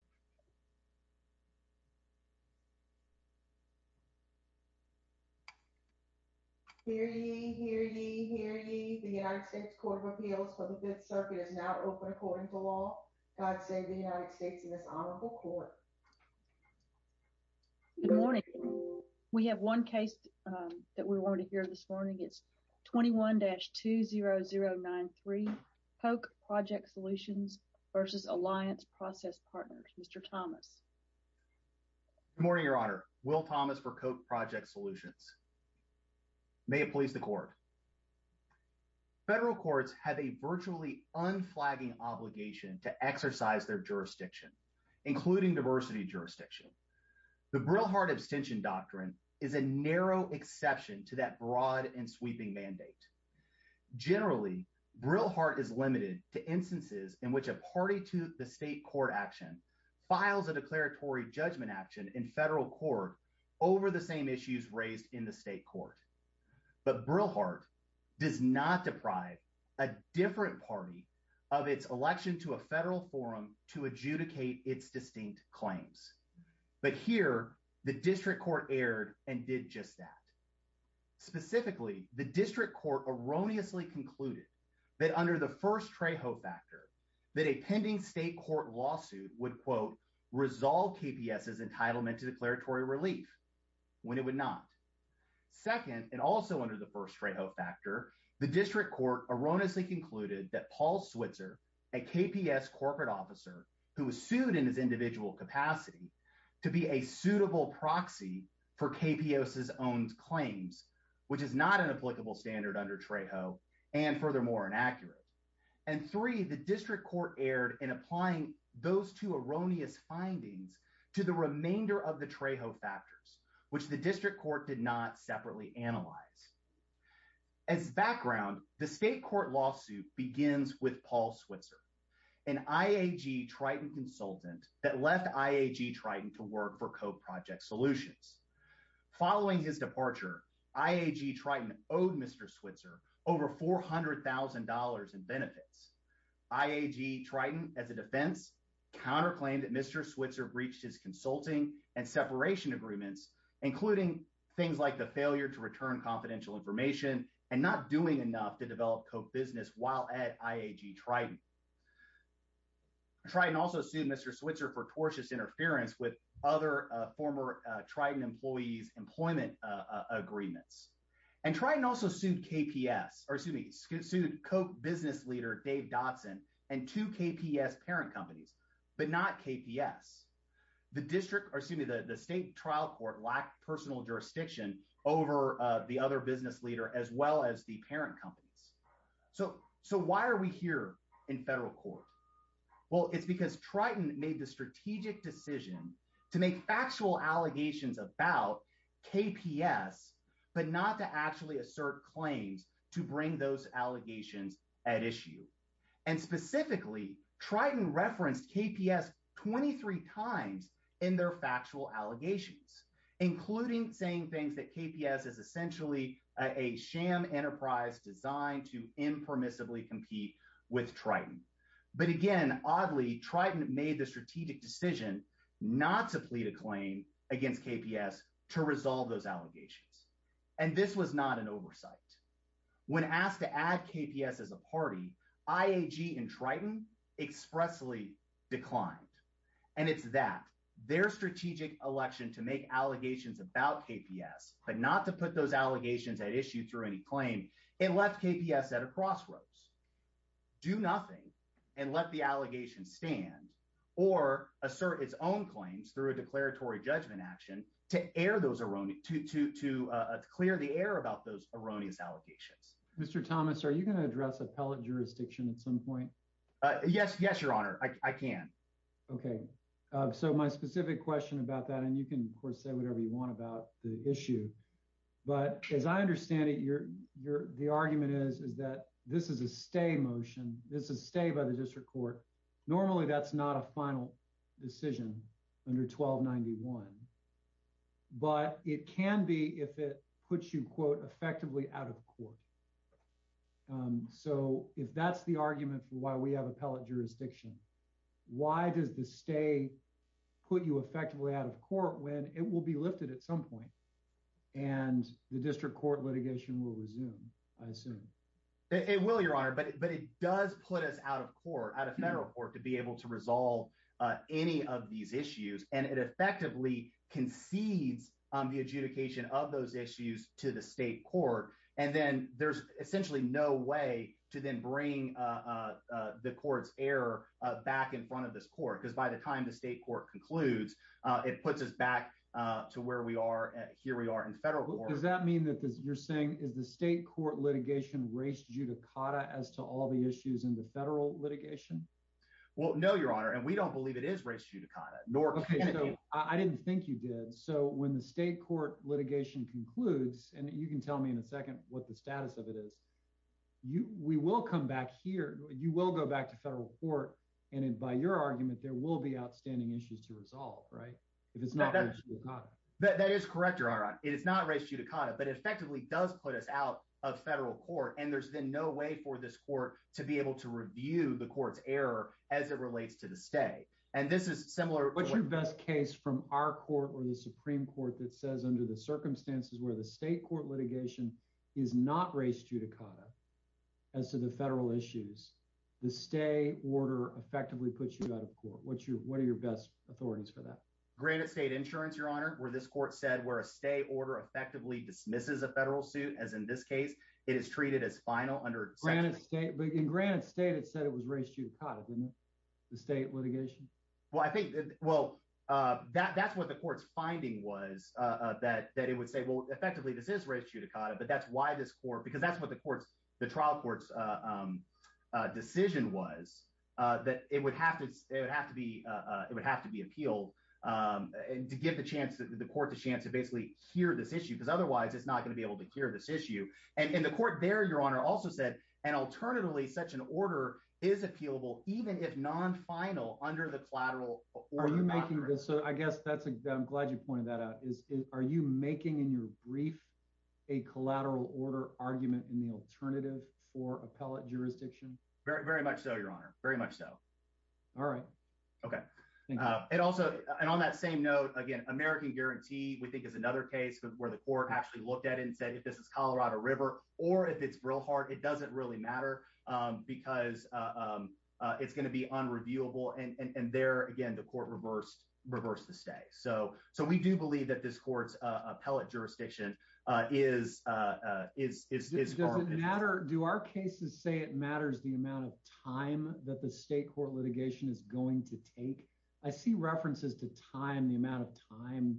21-20093 POC Project Solutions v. Alliance Process Partners Mr. Thomas. Good morning, Your Honor. Will Thomas for POC Project Solutions. May it please the Court. Federal courts have a virtually unflagging obligation to exercise their jurisdiction, including diversity jurisdiction. The Brill-Hart abstention doctrine is a narrow exception to that broad and sweeping mandate. Generally, Brill-Hart is limited to instances in which a party to the state court action files a declaratory judgment action in federal court over the same issues raised in the state court. But Brill-Hart does not deprive a different party of its election to a federal forum to adjudicate its distinct claims. But here, the district court erred and did just that. Specifically, the district court erroneously concluded that under the first Trejo factor, that a pending state court lawsuit would, quote, resolve KPS's entitlement to declaratory relief, when it would not. Second, and also under the first Trejo factor, the district court erroneously concluded that Paul Switzer, a KPS corporate officer who was sued in his individual capacity, to be a suitable proxy for KPS's own claims, which is not an applicable standard under Trejo, and furthermore, inaccurate. And three, the district court erred in applying those two erroneous findings to the remainder of the Trejo factors, which the district court did not separately analyze. As background, the state court lawsuit begins with Paul Switzer, an IAG Triton consultant that left IAG Triton to work for Code Project Solutions. Following his departure, IAG Triton owed Mr. Switzer over $400,000 in benefits. IAG Triton, as a defense, counterclaimed that Mr. Switzer breached his consulting and separation agreements, including things like the failure to return confidential information and not doing enough to develop co-business while at IAG Triton. Triton also sued Mr. Switzer for tortious interference with other former Triton employees' employment agreements. And Triton also sued KPS, or excuse me, sued co-business leader Dave Dodson and two KPS parent companies, but not KPS. The district, or excuse me, the state trial court lacked personal jurisdiction over the other business leader as well as the parent companies. So why are we here in federal court? Well, it's because Triton made the strategic decision to make factual allegations about KPS, but not to actually assert claims to bring those allegations at issue. And specifically, Triton referenced KPS 23 times in their factual allegations, including saying things that KPS is essentially a sham enterprise designed to impermissibly compete with Triton. But again, oddly, Triton made the strategic decision not to plead a claim against KPS to resolve those allegations. And this was not an oversight. When asked to add KPS as a party, IAG and Triton expressly declined. And it's that, their strategic election to make allegations about KPS, but not to put those allegations at issue through any claim and left KPS at a crossroads. Do nothing and let the allegation stand or assert its own claims through a declaratory judgment action to air those erroneous, to clear the air about those erroneous allegations. Mr. Thomas, are you going to address appellate jurisdiction at some point? Yes. Yes, your honor. I can. Okay. So my specific question about that, and you can of course say whatever you want about the issue, but as I understand it, your, your, the argument is, is that this is a stay motion. This is a stay by the district court. Normally that's not a final decision under 1291, but it can be if it puts you quote effectively out of court. So if that's the argument for why we have appellate jurisdiction, why does the stay put you effectively out of court when it will be lifted at some point and the district court litigation will resume? I assume it will, your honor, but, but it does put us out of court, out of federal court to be able to resolve any of these issues. And it effectively concedes the adjudication of those issues to the state court. And then there's essentially no way to then bring the court's air back in front of this court. Cause by the time the state court concludes, it puts us back to where we are here. We are in federal court. Does that mean that you're saying is the state court litigation race judicata as to all the issues in the federal litigation? Well, no, your honor. And we don't believe it is race judicata, nor I didn't think you did. So when the state court litigation concludes and you can tell me in a second, what the status of it is, you, we will come back here. You will go back to federal court. And by your argument, there will be outstanding issues to resolve, right? If it's not, that is correct, your honor. It is not race judicata, but it effectively does put us out of federal court. And there's been no way for this court to be able to review the court's error as it relates to the stay. And this is similar. What's your best case from our court or the is not race judicata as to the federal issues, the stay order effectively puts you out of court. What's your, what are your best authorities for that? Granite state insurance, your honor, where this court said where a stay order effectively dismisses a federal suit, as in this case, it is treated as final under Granite state, but in Granite state, it said it was race judicata, didn't it? The state litigation. Well, I think, well, uh, that, that's what the court's finding was, uh, that, that it would say, well, effectively this is race judicata, but that's why this court, because that's what the court's, the trial court's, um, uh, decision was, uh, that it would have to, it would have to be, uh, it would have to be appealed, um, and to give the chance to the court, the chance to basically hear this issue, because otherwise it's not going to be able to hear this issue. And in the court there, your honor also said, and alternatively, such an order is appealable, even if non-final under the collateral. Are you making this? So I guess that's a, I'm glad you pointed that out is, are you making in your brief, a collateral order argument in the alternative for appellate jurisdiction? Very, very much. So your honor, very much so. All right. Okay. Uh, and also, and on that same note, again, American guarantee, we think is another case where the court actually looked at it and said, if this is Colorado river, or if it's real hard, it doesn't really matter. Um, because, um, uh, it's going to be unreviewable. And there again, the court reversed, reversed the stay. So, so we do believe that this court's, uh, appellate jurisdiction, uh, is, uh, uh, is, is, is, does it matter? Do our cases say it matters the amount of time that the state court litigation is going to take? I see references to time, the amount of time,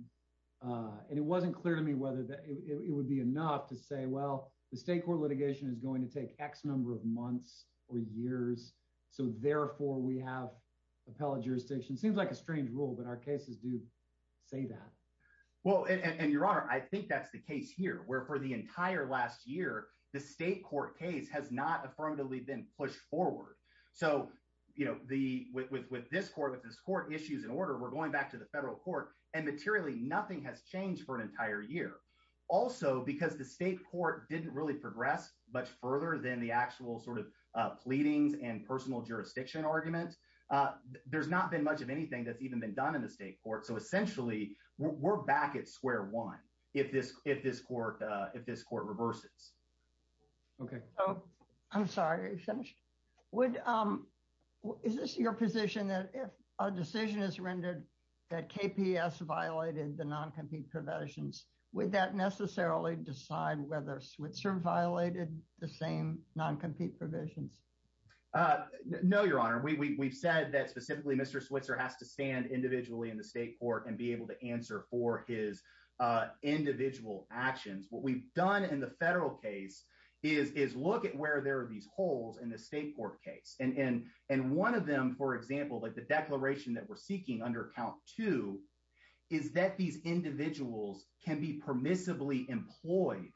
uh, and it wasn't clear to me whether it would be enough to say, well, the state court litigation is going to take X number of months or years. So therefore we have appellate jurisdiction seems like a strange rule, but our cases do say that. Well, and your honor, I think that's the case here where for the entire last year, the state court case has not affirmatively been pushed forward. So, you know, the, with, with, with this court, with this court issues in order, we're going back to the federal court and materially, nothing has changed for an entire year also because the state court didn't really progress much further than the actual sort of, uh, pleadings and personal jurisdiction argument. Uh, there's not been much of anything that's even been done in the state court. So essentially we're back at square one. If this, if this court, uh, if this court reverses. Okay. Oh, I'm sorry. Are you finished? Would, um, is this your position that if a decision is rendered that KPS violated the non-compete provisions, would that necessarily decide whether Switzer violated the same non-compete provisions? Uh, no, your honor, we, we, we've said that specifically Mr. Switzer has to stand individually in the state court and be able to answer for his, uh, individual actions. What we've done in the federal case is, is look at where there are these holes in the state court case. And, and, and one of them, for example, like the declaration that we're seeking under count two, is that these individuals can be permissibly employed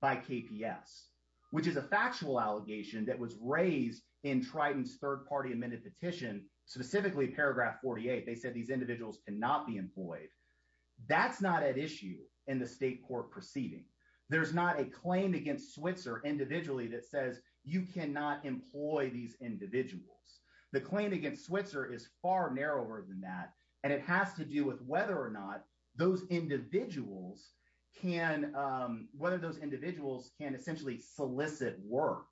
by KPS, which is a factual allegation that was raised in Triton's third party amended petition, specifically paragraph 48. They said these individuals cannot be employed. That's not at issue in the state court proceeding. There's not a claim against Switzer individually that says you cannot employ these individuals. The claim against Switzer is far narrower than that. And it has to do with whether or not those individuals can, um, whether those individuals can essentially solicit work,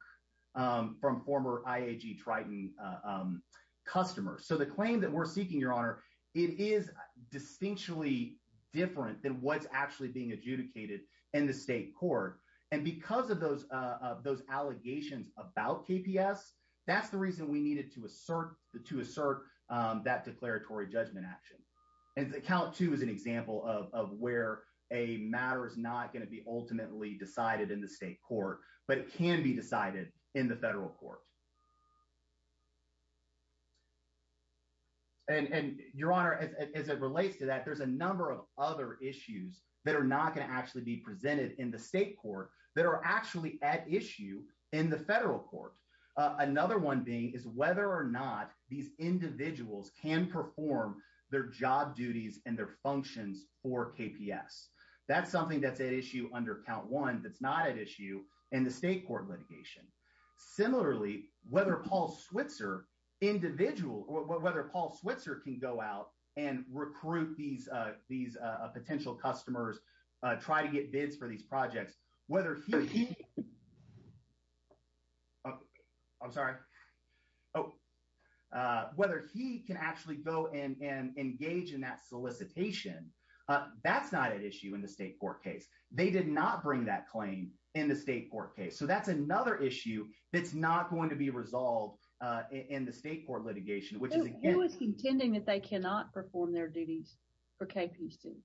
um, from former IAG Triton, um, customers. So the claim that we're seeking, your honor, it is distinctly different than what's actually being adjudicated in the state court. And because of those, uh, those allegations about KPS, that's the reason we needed to assert the, to assert, um, that declaratory judgment action. And count two is an example of, of where a matter is not going to be ultimately decided in the state court, but it can be decided in the federal court. And, and your honor, as it relates to that, there's a number of other issues that are not going to actually be presented in the state court that are actually at issue in the federal court. Uh, another one being is whether or not these individuals can perform their job duties and their functions for KPS. That's something that's at issue under count one, that's not at issue in the state court litigation. Similarly, whether Paul Switzer individual, whether Paul Switzer can go out and recruit these, uh, these, uh, potential customers, uh, try to get bids for these projects, whether he, oh, I'm sorry. Oh, uh, whether he can actually go and, and engage in that solicitation. Uh, that's not an issue in the state court case. They did not bring that claim in the state court case. So that's another issue that's not going to be resolved, uh, in the state court litigation, it was contending that they cannot perform their duties for KPC.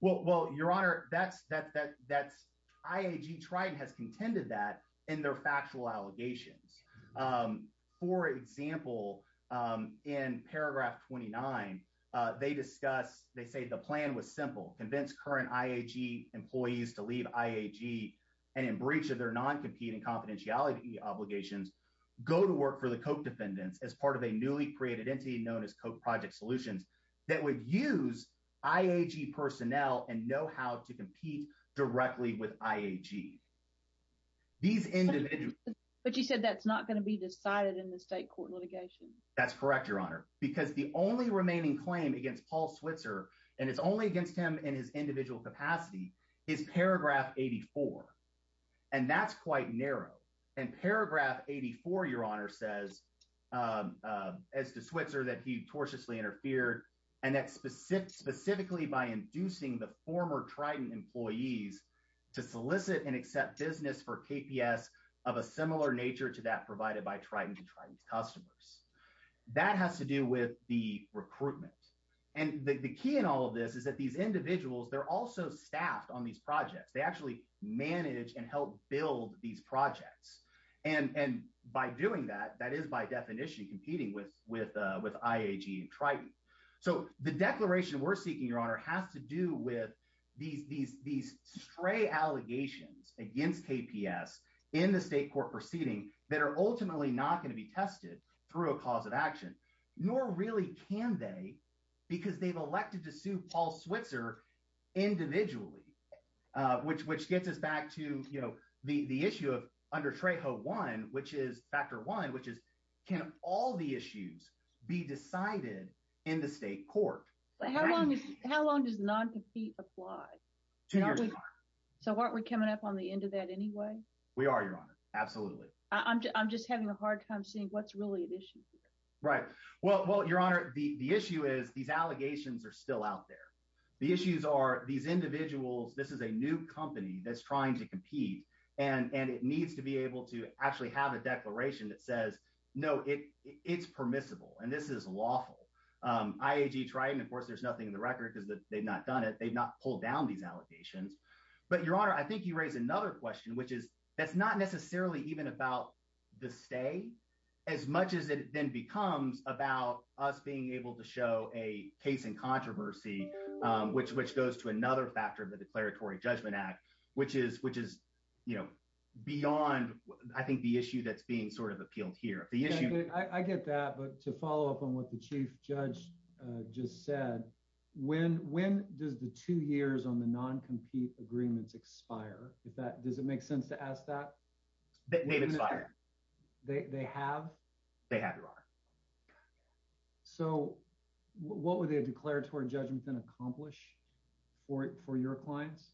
Well, well, your honor, that's, that, that that's IAG tried and has contended that in their factual allegations. Um, for example, um, in paragraph 29, uh, they discuss, they say the plan was simple, convince current IAG employees to leave IAG and in breach of their non-competing confidentiality obligations, go to work for the Koch defendants as part of a newly created entity known as Koch project solutions that would use IAG personnel and know how to compete directly with IAG. These individuals, but you said that's not going to be decided in the state court litigation. That's correct. Your honor, because the only remaining claim against Paul Switzer, and it's only against him in his individual capacity is paragraph 84. And that's quite narrow. And paragraph 84, your honor says, um, uh, as to Switzer that he tortiously interfered and that's specific specifically by inducing the former Trident employees to solicit and accept business for KPS of a similar nature to that provided by Trident and Trident customers. That has to do with the recruitment. And the key in all of this is that these individuals, they're also staffed on these projects. They actually manage and help build these projects. And, and by doing that, that is by definition competing with, with, uh, with IAG and Trident. So the declaration we're seeking your honor has to do with these, these, these stray allegations against KPS in the state court proceeding that are ultimately not going to be tested through a cause of action, nor really can they because they've elected to sue Paul Switzer individually, uh, which, which gets us back to, you know, the, the issue of under Trejo one, which is factor one, which is, can all the issues be decided in the state court? How long does non-compete apply? So why aren't we coming up on the end of that anyway? We are, your honor. Absolutely. I'm just, I'm just having a hard time seeing what's really an issue here. Right. Well, well, your honor, the, the issue is these allegations are still out there. The issues are these individuals, this is a new company that's trying to compete and, and it needs to be able to actually have a declaration that says, no, it it's permissible. And this is lawful. Um, IAG, Trident, of course, there's nothing in the record because they've not done it. They've not pulled down these allegations, but your honor, I think you raised another question, which is, that's not necessarily even about the stay as much as it then becomes about us being able to show a case in controversy, which, which goes to another factor of the declaratory judgment act, which is, which is, you know, beyond, I think the issue that's being sort of appealed here. The issue I get that, but to follow up on what the chief judge just said, when, when does the two years on the non-compete agreements expire, is that, does it make sense to ask that they have, they have your honor. So what would the declaratory judgment then accomplish for it, for your clients?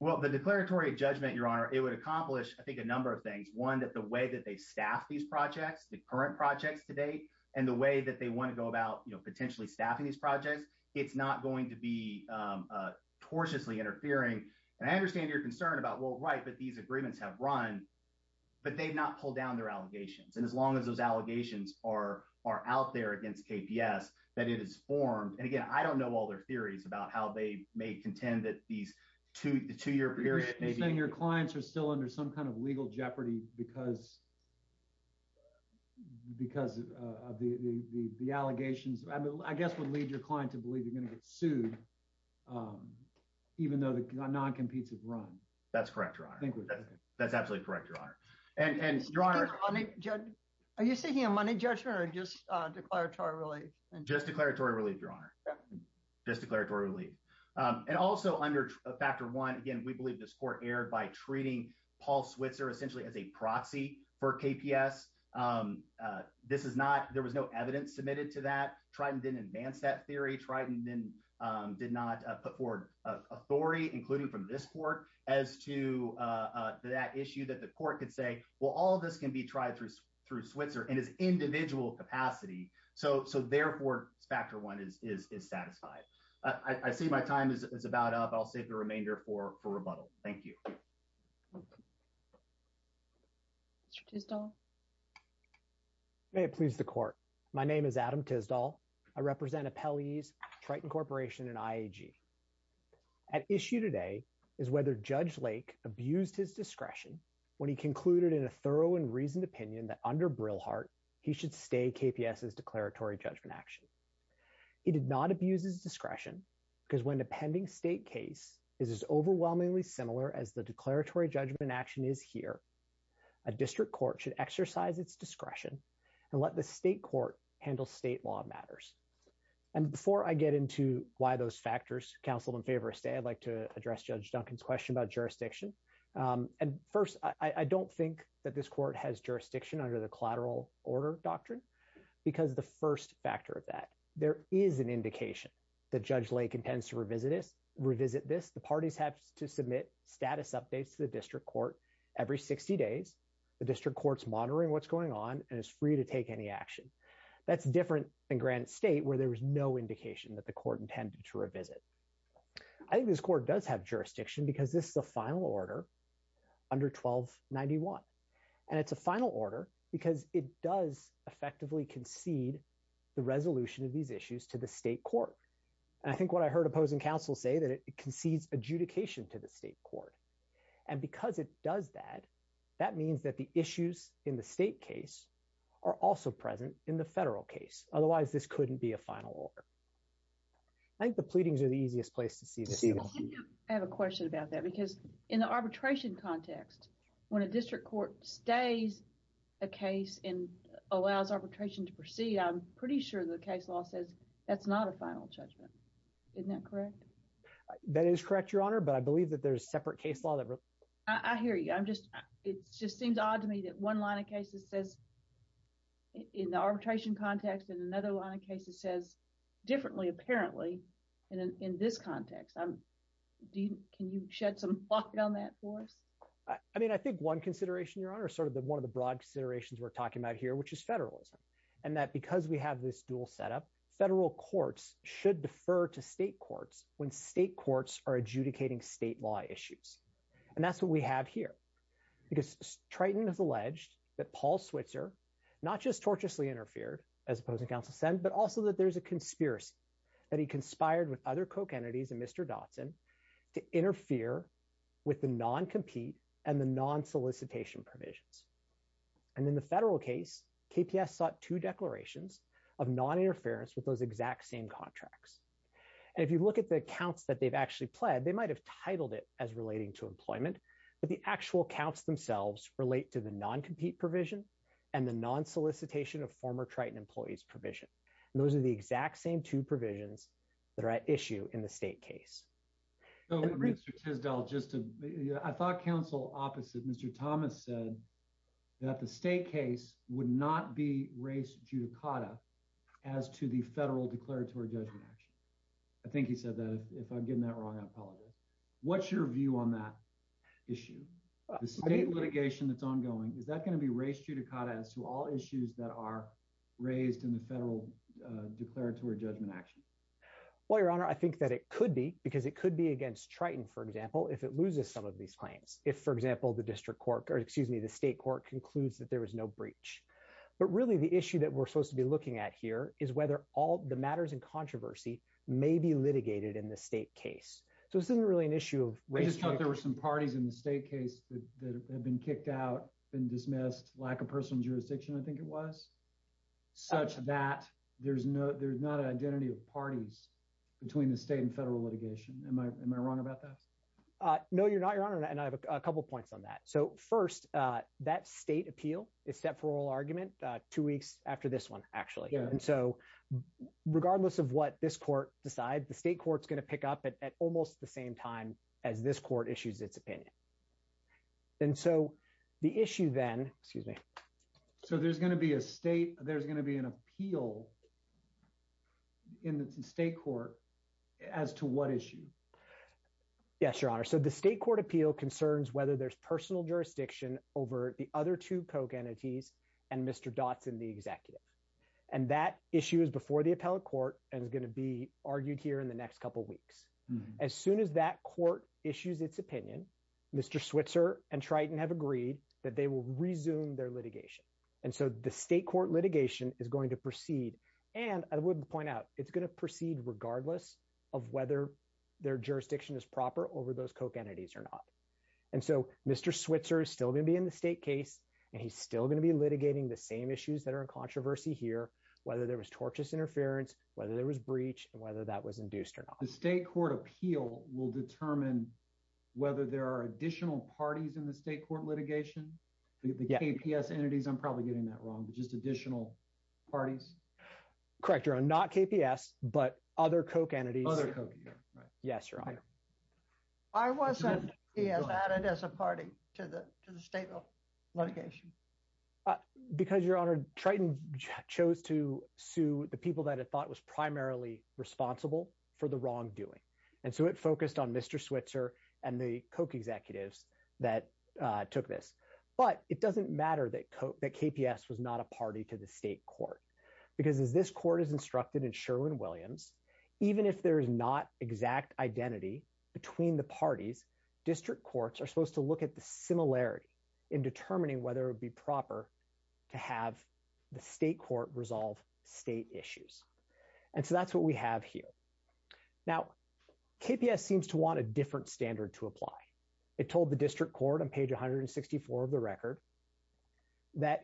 Well, the declaratory judgment, your honor, it would accomplish, I think a number of things. One, that the way that they staff these projects, the current projects today, and the way that they want to go about, you know, potentially staffing these projects, it's not going to be tortuously interfering. And I understand your concern about, well, right, but these agreements have run, but they've not pulled down their allegations. And as long as those allegations are, are out there against KPS, that it is formed. And again, I don't know all their theories about how they may contend that these two, the two year period, your clients are still under some kind of legal jeopardy because, because of the, the, the, the allegations, I guess, would lead your client to believe you're going to get sued, even though the non-competes have run. That's correct, your honor, that's absolutely correct, your honor. And your honor, are you seeking a money judgment or just declaratory relief? Just declaratory relief, your honor, just declaratory relief. And also under factor one, again, we believe this court erred by treating Paul Switzer essentially as a proxy for KPS. This is not, there was no evidence submitted to that. Triton didn't advance that theory. Triton then did not put forward authority, including from this court as to that issue that the court could say, well, all of this can be tried through, through Switzer in his individual capacity. So, so therefore factor one is, is, is satisfied. I see my time is about up. I'll save the remainder for, for rebuttal. Thank you. Mr. Tisdall. May it please the court. My name is Adam Tisdall. I represent appellees, Triton Corporation and IAG. At issue today is whether Judge Lake abused his discretion when he concluded in a thorough and reasoned opinion that under Brilhart, he should stay KPS's declaratory judgment action. He did not abuse his discretion because when a pending state case is as overwhelmingly similar as the declaratory judgment action is here, a district court should exercise its discretion and let the state court handle state law matters. And before I get into why those factors counseled in favor of stay, I'd like to address Judge Duncan's question about jurisdiction. And first, I don't think that this court has jurisdiction under the collateral order doctrine because the first factor of that, there is an indication that Judge Lake intends to revisit this, revisit this. The parties have to submit status updates to the district court every 60 days. The district court's monitoring what's going on and is free to take any action. That's different than Grant State where there was no indication that the court intended to revisit. I think this court does have jurisdiction because this is a final order under 1291. And it's a final order because it does effectively concede the resolution of these issues to the state court. I think what I heard opposing counsel say that it concedes adjudication to the state court. And because it does that, that means that the issues in the state case are also present in the federal case. Otherwise, this couldn't be a final order. I think the pleadings are the easiest place to see this. I have a question about that because in the arbitration context, when a district court stays a case and allows arbitration to proceed, I'm pretty sure the case law says that's not a final judgment. Isn't that correct? That is correct, Your Honor. But I believe that there's separate case law. I hear you. I'm just, it just seems odd to me that one line of cases says in the arbitration context and another line of cases says differently apparently in this context. Can you shed some light on that for us? I mean, I think one consideration, Your Honor, sort of one of the broad considerations we're talking about here, which is federalism. And that because we have this dual setup, federal courts should defer to state courts when state courts are adjudicating state law issues. And that's what we have here. Because Triton has alleged that Paul Switzer not just torturously interfered, as opposing counsel said, but also that there's a conspiracy that he conspired with other Koch entities and Mr. Dotson to interfere with the non-compete and the non-solicitation provisions. And in the federal case, KPS sought two declarations of non-interference with those exact same contracts. And if you look at the accounts that they've actually pled, they might have titled it as relating to employment, but the actual accounts themselves relate to the non-compete provision and the non-solicitation of former Triton employees provision. And those are the exact same two provisions that are at issue in the state case. Mr. Tisdall, I thought counsel opposite Mr. Thomas said that the state case would not be race judicata as to the federal declaratory judgment action. I think he said that. If I'm getting that wrong, I apologize. What's your view on that issue? The state litigation that's ongoing, is that going to be race judicata as to all issues that are raised in the federal declaratory judgment action? Well, your honor, I think that it could be, because it could be against Triton, for example, if it loses some of these claims. If, for example, the district court, or excuse me, the state court concludes that there was no breach. But really the issue that we're supposed to be looking at here is whether all the matters in controversy may be litigated in the state case. So this isn't really an issue of race judicata. We just thought there were some parties in the state case that have been kicked out and dismissed, lack of personal jurisdiction, I think it was, such that there's not an identity of parties between the state and federal litigation. Am I wrong about that? No, you're not, your honor. And I have a couple of points on that. So first, that state appeal is set for oral argument two weeks after this one, actually. And so regardless of what this court decides, the state court's going to pick up at almost the same time as this court issues its opinion. And so the issue then, excuse me. So there's going to be an appeal in the state court as to what issue? Yes, your honor. So the state court appeal concerns whether there's personal jurisdiction over the other two Koch entities and Mr. Dotson, the executive. And that issue is before the appellate court and is going to be argued here in the next couple of weeks. As soon as that court issues its opinion, Mr. Switzer and Triton have agreed that they will resume their litigation. And so the state court litigation is going to proceed. And I would point out, it's going to proceed regardless of whether their jurisdiction is proper over those Koch entities or not. And so Mr. Switzer is still going to be in the state case, and he's still going to be litigating the same issues that are in controversy here, whether there was tortious interference, whether there was breach, and whether that was induced or not. The state court appeal will determine whether there are additional parties in the state litigation. The KPS entities, I'm probably getting that wrong, but just additional parties. Correct, your honor. Not KPS, but other Koch entities. Other Koch, yeah, right. Yes, your honor. Why wasn't he added as a party to the state litigation? Because, your honor, Triton chose to sue the people that it thought was primarily responsible for the wrongdoing. And so it focused on Mr. Switzer and the Koch executives that took this. But it doesn't matter that KPS was not a party to the state court. Because as this court is instructed in Sherwin-Williams, even if there is not exact identity between the parties, district courts are supposed to look at the similarity in determining whether it would be proper to have the state court resolve state issues. And so that's what we have here. Now, KPS seems to want a different standard to apply. It told the district court on page 164 of the record that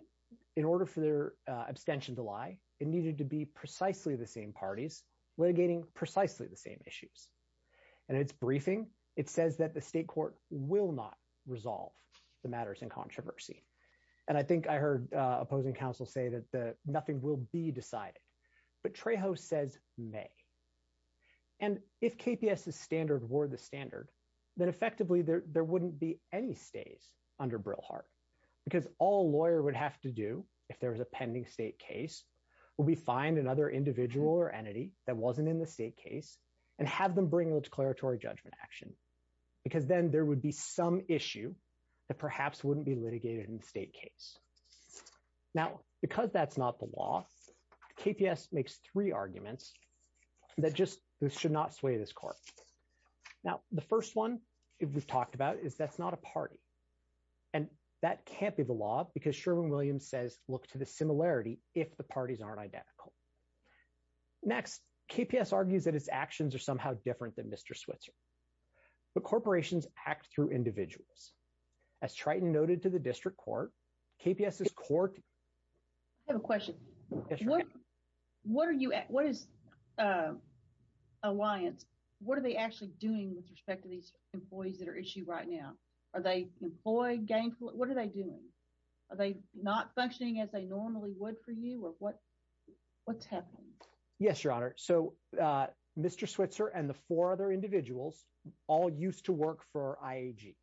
in order for their abstention to lie, it needed to be precisely the same parties litigating precisely the same issues. And its briefing, it says that the state court will not resolve the matters in controversy. And I think I heard opposing counsel say that nothing will be decided. But Trejo says may. And if KPS's standard were the standard, then effectively there wouldn't be any stays under Brillhart. Because all a lawyer would have to do, if there was a pending state case, would be find another individual or entity that wasn't in the state case and have them bring a declaratory judgment action. Because then there would be some issue that perhaps wouldn't be litigated in the state case. Now, because that's not the law, KPS makes three arguments that just should not sway this court. Now, the first one we've talked about is that's not a party. And that can't be the law because Sherwin-Williams says look to the similarity if the parties aren't identical. Next, KPS argues that its actions are somehow different than Mr. Switzer. But corporations act through individuals. As Triton noted to the district court, KPS's court. I have a question. What are you at? What is Alliance, what are they actually doing with respect to these employees that are issued right now? Are they employed, gainful? What are they doing? Are they not functioning as they normally would for you? Or what's happening? Yes, Your Honor. So Mr. Switzer and the four other individuals all used to work for IAG.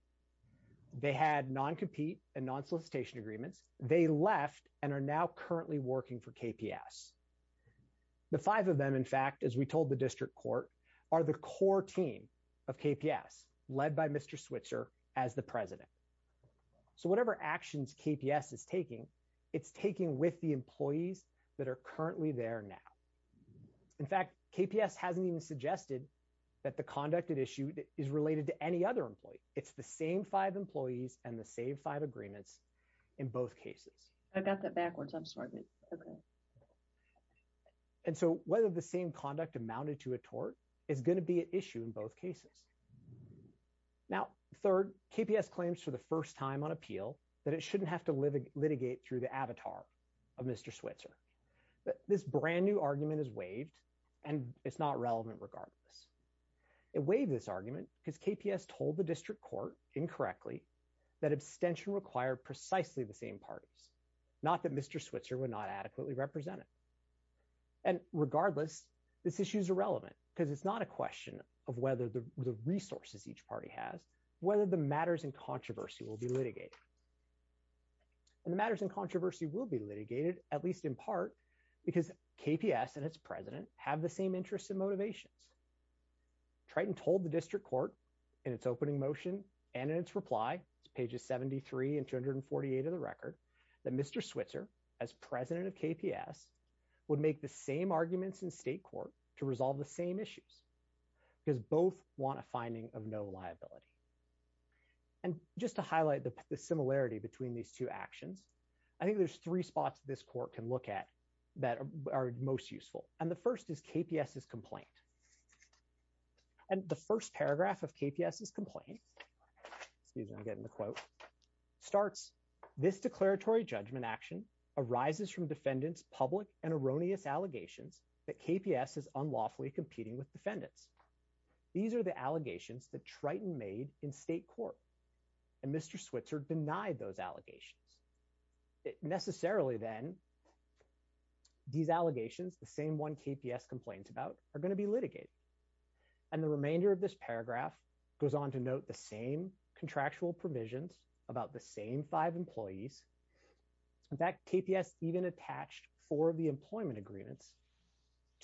They had non-compete and non-solicitation agreements. They left and are now currently working for KPS. The five of them, in fact, as we told the district court, are the core team of KPS, led by Mr. Switzer as the president. So whatever actions KPS is taking, it's taking with the employees that are currently there now. In fact, KPS hasn't even suggested that the conduct it issued is related to any other employee. It's the same five employees and the same five agreements in both cases. I got that backwards. I'm sorry. And so whether the same conduct amounted to a tort is going to be an issue in both cases. Now, third, KPS claims for the first time on appeal that it shouldn't have to litigate through the avatar of Mr. Switzer. This brand new argument is waived and it's not relevant regardless. It waived this argument because KPS told the district court, incorrectly, that abstention required precisely the same parties, not that Mr. Switzer would not adequately represent it. And regardless, this issue is irrelevant because it's not a question of whether the resources each party has, whether the matters in controversy will be litigated. And the matters in controversy will be litigated, at least in part, because KPS and its president have the same interests and motivations. Triton told the district court in its opening motion and in its reply, pages 73 and 248 of the record, that Mr. Switzer, as president of KPS, would make the same arguments in state court to resolve the same issues because both want a finding of no liability. And just to highlight the similarity between these two actions, I think there's three spots this court can look at that are most useful. And the first is KPS's complaint. And the first paragraph of KPS's complaint, excuse me, I'm getting the quote, starts, this declaratory judgment action arises from defendants' public and erroneous allegations that KPS is unlawfully competing with defendants. These are the allegations that Triton made in state court and Mr. Switzer denied those allegations. Necessarily, then, these allegations, the same one KPS complains about, are going to be litigated. And the remainder of this paragraph goes on to note the same contractual provisions about the same five employees. In fact, KPS even attached four of the employment agreements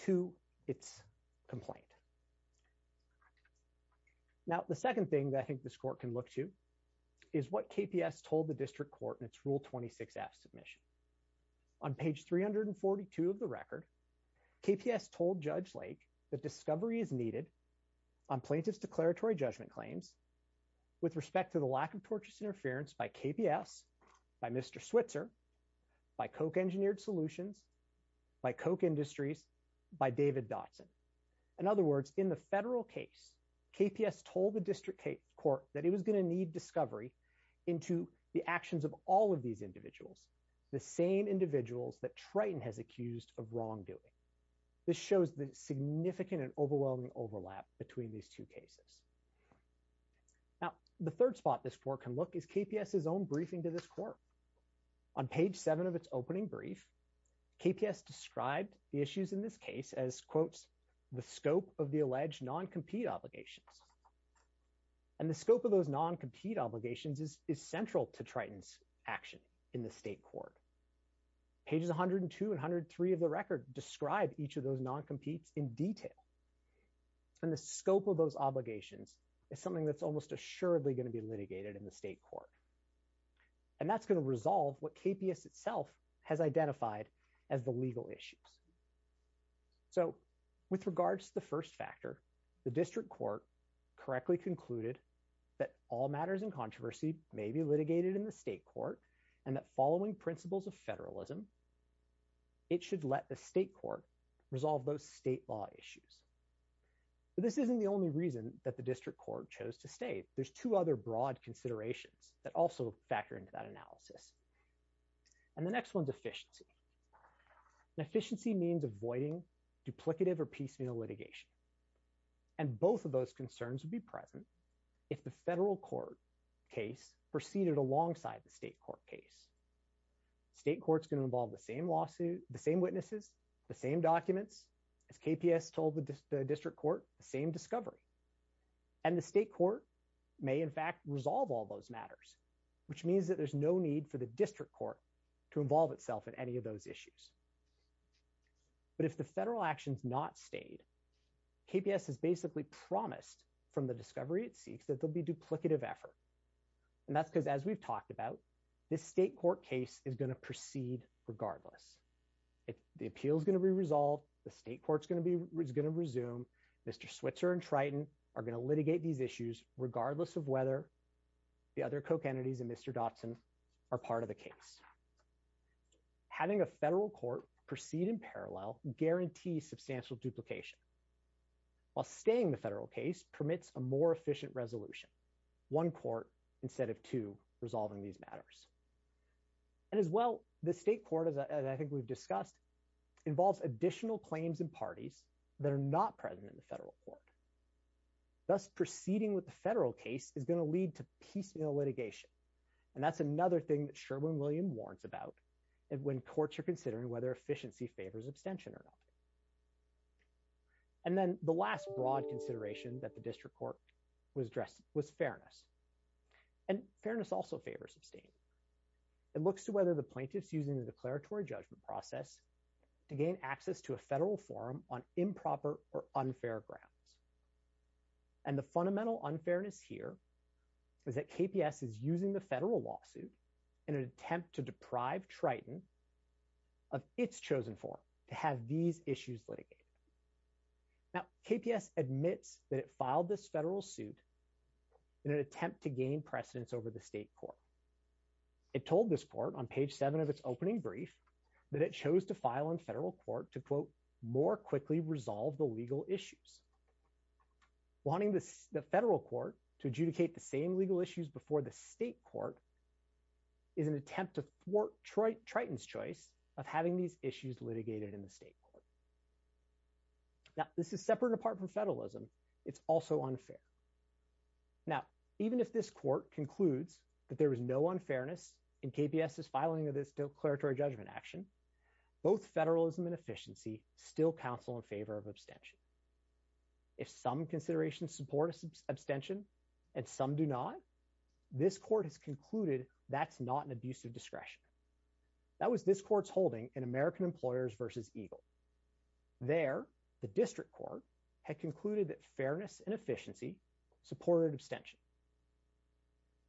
to its complaint. Now, the second thing that I think this court can look to is what KPS told the district court in its Rule 26F submission. On page 342 of the record, KPS told Judge Lake that discovery is needed on plaintiff's declaratory judgment claims with respect to the lack of tortious interference by KPS, by Mr. Switzer, by Koch Engineered Solutions, by Koch Industries, by David Dotson. In other words, in the federal case, KPS told the district court that it was going to need all of these individuals, the same individuals that Triton has accused of wrongdoing. This shows the significant and overwhelming overlap between these two cases. Now, the third spot this court can look is KPS's own briefing to this court. On page 7 of its opening brief, KPS described the issues in this case as, quotes, the scope of the alleged non-compete obligations. And the scope of those non-compete obligations is central to Triton's action in the state court. Pages 102 and 103 of the record describe each of those non-competes in detail. And the scope of those obligations is something that's almost assuredly going to be litigated in the state court. And that's going to resolve what KPS itself has identified as the legal issues. So, with regards to the first factor, the district court correctly concluded that all matters in controversy may be litigated in the state court, and that following principles of federalism, it should let the state court resolve those state law issues. But this isn't the only reason that the district court chose to stay. There's two other broad considerations that also factor into that analysis. And the next one's efficiency. And efficiency means avoiding duplicative or piecemeal litigation. And both of those concerns would be present if the federal court case proceeded alongside the state court case. State courts can involve the same witnesses, the same documents, as KPS told the district court, the same discovery. And the state court may, in fact, resolve all those matters, which means that there's no need for the district court to involve itself in any of those issues. But if the federal action's not stayed, KPS has basically promised from the discovery it seeks that there'll be duplicative effort. And that's because, as we've talked about, this state court case is going to proceed regardless. The appeal's going to be resolved. The state court's going to resume. Mr. Switzer and Triton are going to litigate these issues regardless of whether the other entities and Mr. Dotson are part of the case. Having a federal court proceed in parallel guarantees substantial duplication, while staying in the federal case permits a more efficient resolution, one court instead of two resolving these matters. And as well, the state court, as I think we've discussed, involves additional claims and parties that are not present in the federal court. Thus, proceeding with the federal case is going to lead to piecemeal litigation. And that's another thing that Sherwin-Williams warns about when courts are considering whether efficiency favors abstention or not. And then the last broad consideration that the district court was addressed was fairness. And fairness also favors abstain. It looks to whether the plaintiff's using the declaratory judgment process to gain access to a federal forum on improper or unfair grounds. And the fundamental unfairness here is that KPS is using the federal lawsuit in an attempt to deprive Triton of its chosen forum to have these issues litigated. Now, KPS admits that it filed this federal suit in an attempt to gain precedence over the state court. It told this court on page seven of its opening brief that it chose to file in federal court to, quote, more quickly resolve the legal issues. Wanting the federal court to adjudicate the same legal issues before the state court is an attempt to thwart Triton's choice of having these issues litigated in the state court. Now, this is separate apart from federalism. It's also unfair. Now, even if this court concludes that there is no unfairness in KPS's filing of this declaratory judgment action, both federalism and efficiency still counsel in favor of abstention. If some considerations support abstention and some do not, this court has concluded that's not an abuse of discretion. That was this court's holding in American Employers versus EGLE. There, the district court had concluded that fairness and efficiency supported abstention.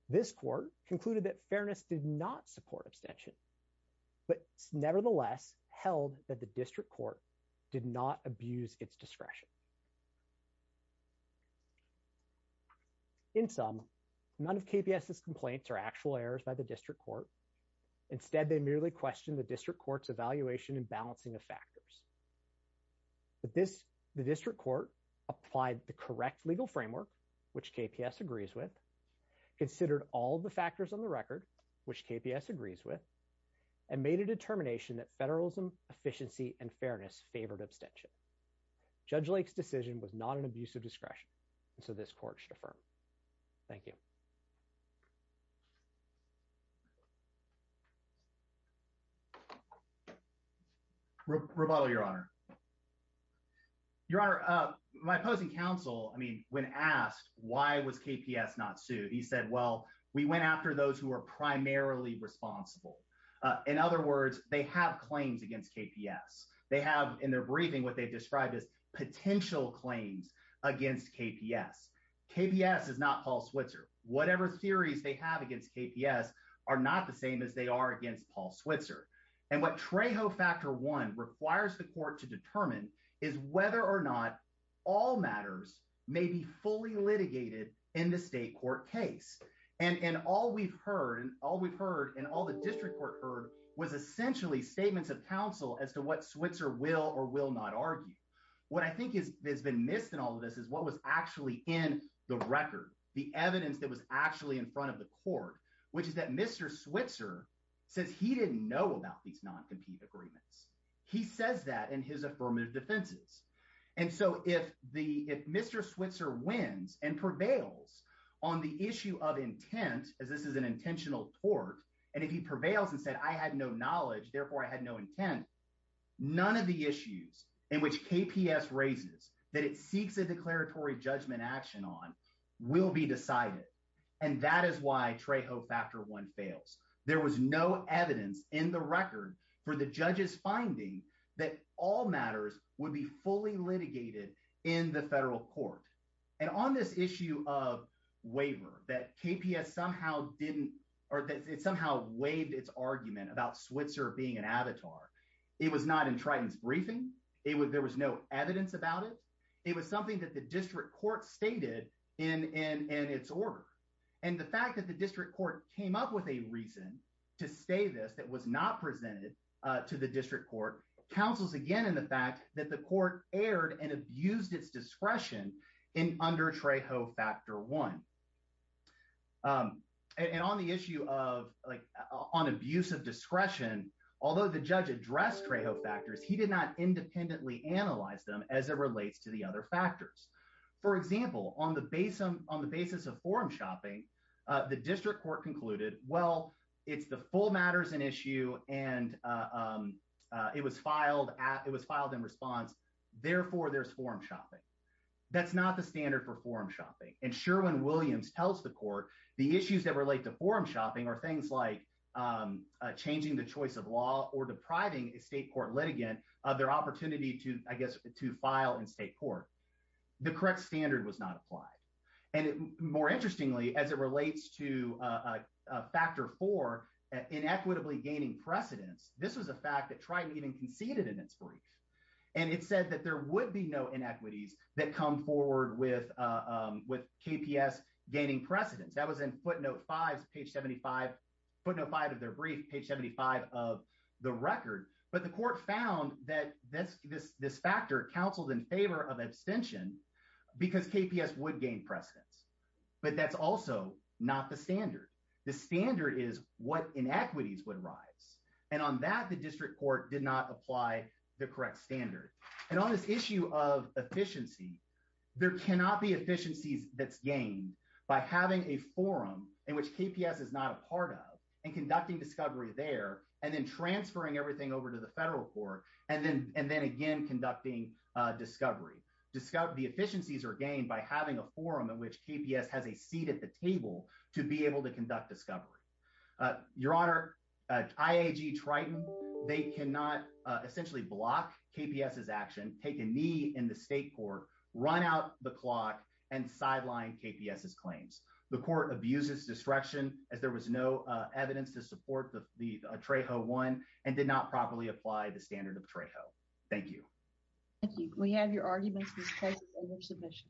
This court concluded that fairness did not support abstention, but nevertheless held that the district court did not abuse its discretion. In sum, none of KPS's complaints are actual errors by the district court. Instead, they merely questioned the district court's evaluation and balancing of factors. But this, the district court applied the correct legal framework, which KPS agrees with, considered all the factors on the record, which KPS agrees with, and made a determination that federalism, efficiency, and fairness favored abstention. Judge Lake's decision was not an abuse of discretion, and so this court should affirm. Thank you. Rebuttal, Your Honor. Your Honor, my opposing counsel, I mean, when asked why was KPS not sued, he said, well, we went after those who are primarily responsible. In other words, they have claims against KPS. They have in their briefing what they've described as potential claims against KPS. KPS is not Paul Switzer. Whatever theories they have against KPS are not the same as they are against Paul Switzer. And what Trejo Factor 1 requires the court to determine is whether or not all matters may be fully litigated in the state court case. And all we've heard, and all we've heard, and all the district court heard was essentially statements of counsel as to what Switzer will or will not argue. What I think has been missed in all of this is what was actually in the record, the evidence that was actually in front of the court, which is that Mr. Switzer says he didn't know about these non-compete agreements. He says that in his affirmative defenses. And so if Mr. Switzer wins and prevails on the issue of intent, as this is an intentional tort, and if he prevails and said, I had no knowledge, therefore I had no intent, none of the issues in which KPS raises that it seeks a declaratory judgment action on will be decided. And that is why Trejo Factor 1 fails. There was no evidence in the record for the judge's finding that all matters would be fully litigated in the federal court. And on this issue of waiver, that KPS somehow didn't, or that it somehow waived its argument about Switzer being an avatar, it was not in Triton's briefing. There was no evidence about it. It was something that the district court stated in its order. And the fact that the district court came up with a reason to say this that was not presented to the district court counsels again in the fact that the court erred and abused its discretion under Trejo Factor 1. And on the issue of, like, on abuse of discretion, although the judge addressed Trejo factors, he did not independently analyze them as it relates to the other factors. For example, on the basis of forum shopping, the district court concluded, well, it's the full matters and issue, and it was filed in response. Therefore, there's forum shopping. That's not the standard for forum shopping. And Sherwin-Williams tells the court the issues that relate to forum shopping are things like changing the choice of law or depriving a state court litigant of their opportunity to, I guess, to file in state court. The correct standard was not applied. And more interestingly, as it relates to Factor 4, inequitably gaining precedence, this was a fact that Triton even conceded in its brief. And it said that there would be no inequities that come forward with KPS gaining precedence. That was in footnote 5 of their brief, page 75 of the record. But the court found that this factor counseled in favor of abstention because KPS would gain precedence. But that's also not the standard. The standard is what inequities would rise. And on that, the district court did not apply the correct standard. And on this issue of efficiency, there cannot be efficiencies that's gained by having a forum in which KPS is not a part of and conducting discovery there and then transferring everything over to the federal court and then again conducting discovery. The efficiencies are gained by having a forum in which KPS has a seat at the table to be able to conduct discovery. Your Honor, IAG Triton, they cannot essentially block KPS's action, take a knee in the state court, run out the clock, and sideline KPS's claims. The court abuses distraction as there was no evidence to support the Trejo one and did not properly apply the standard of Trejo. Thank you. Thank you. We have your arguments in place for your submission.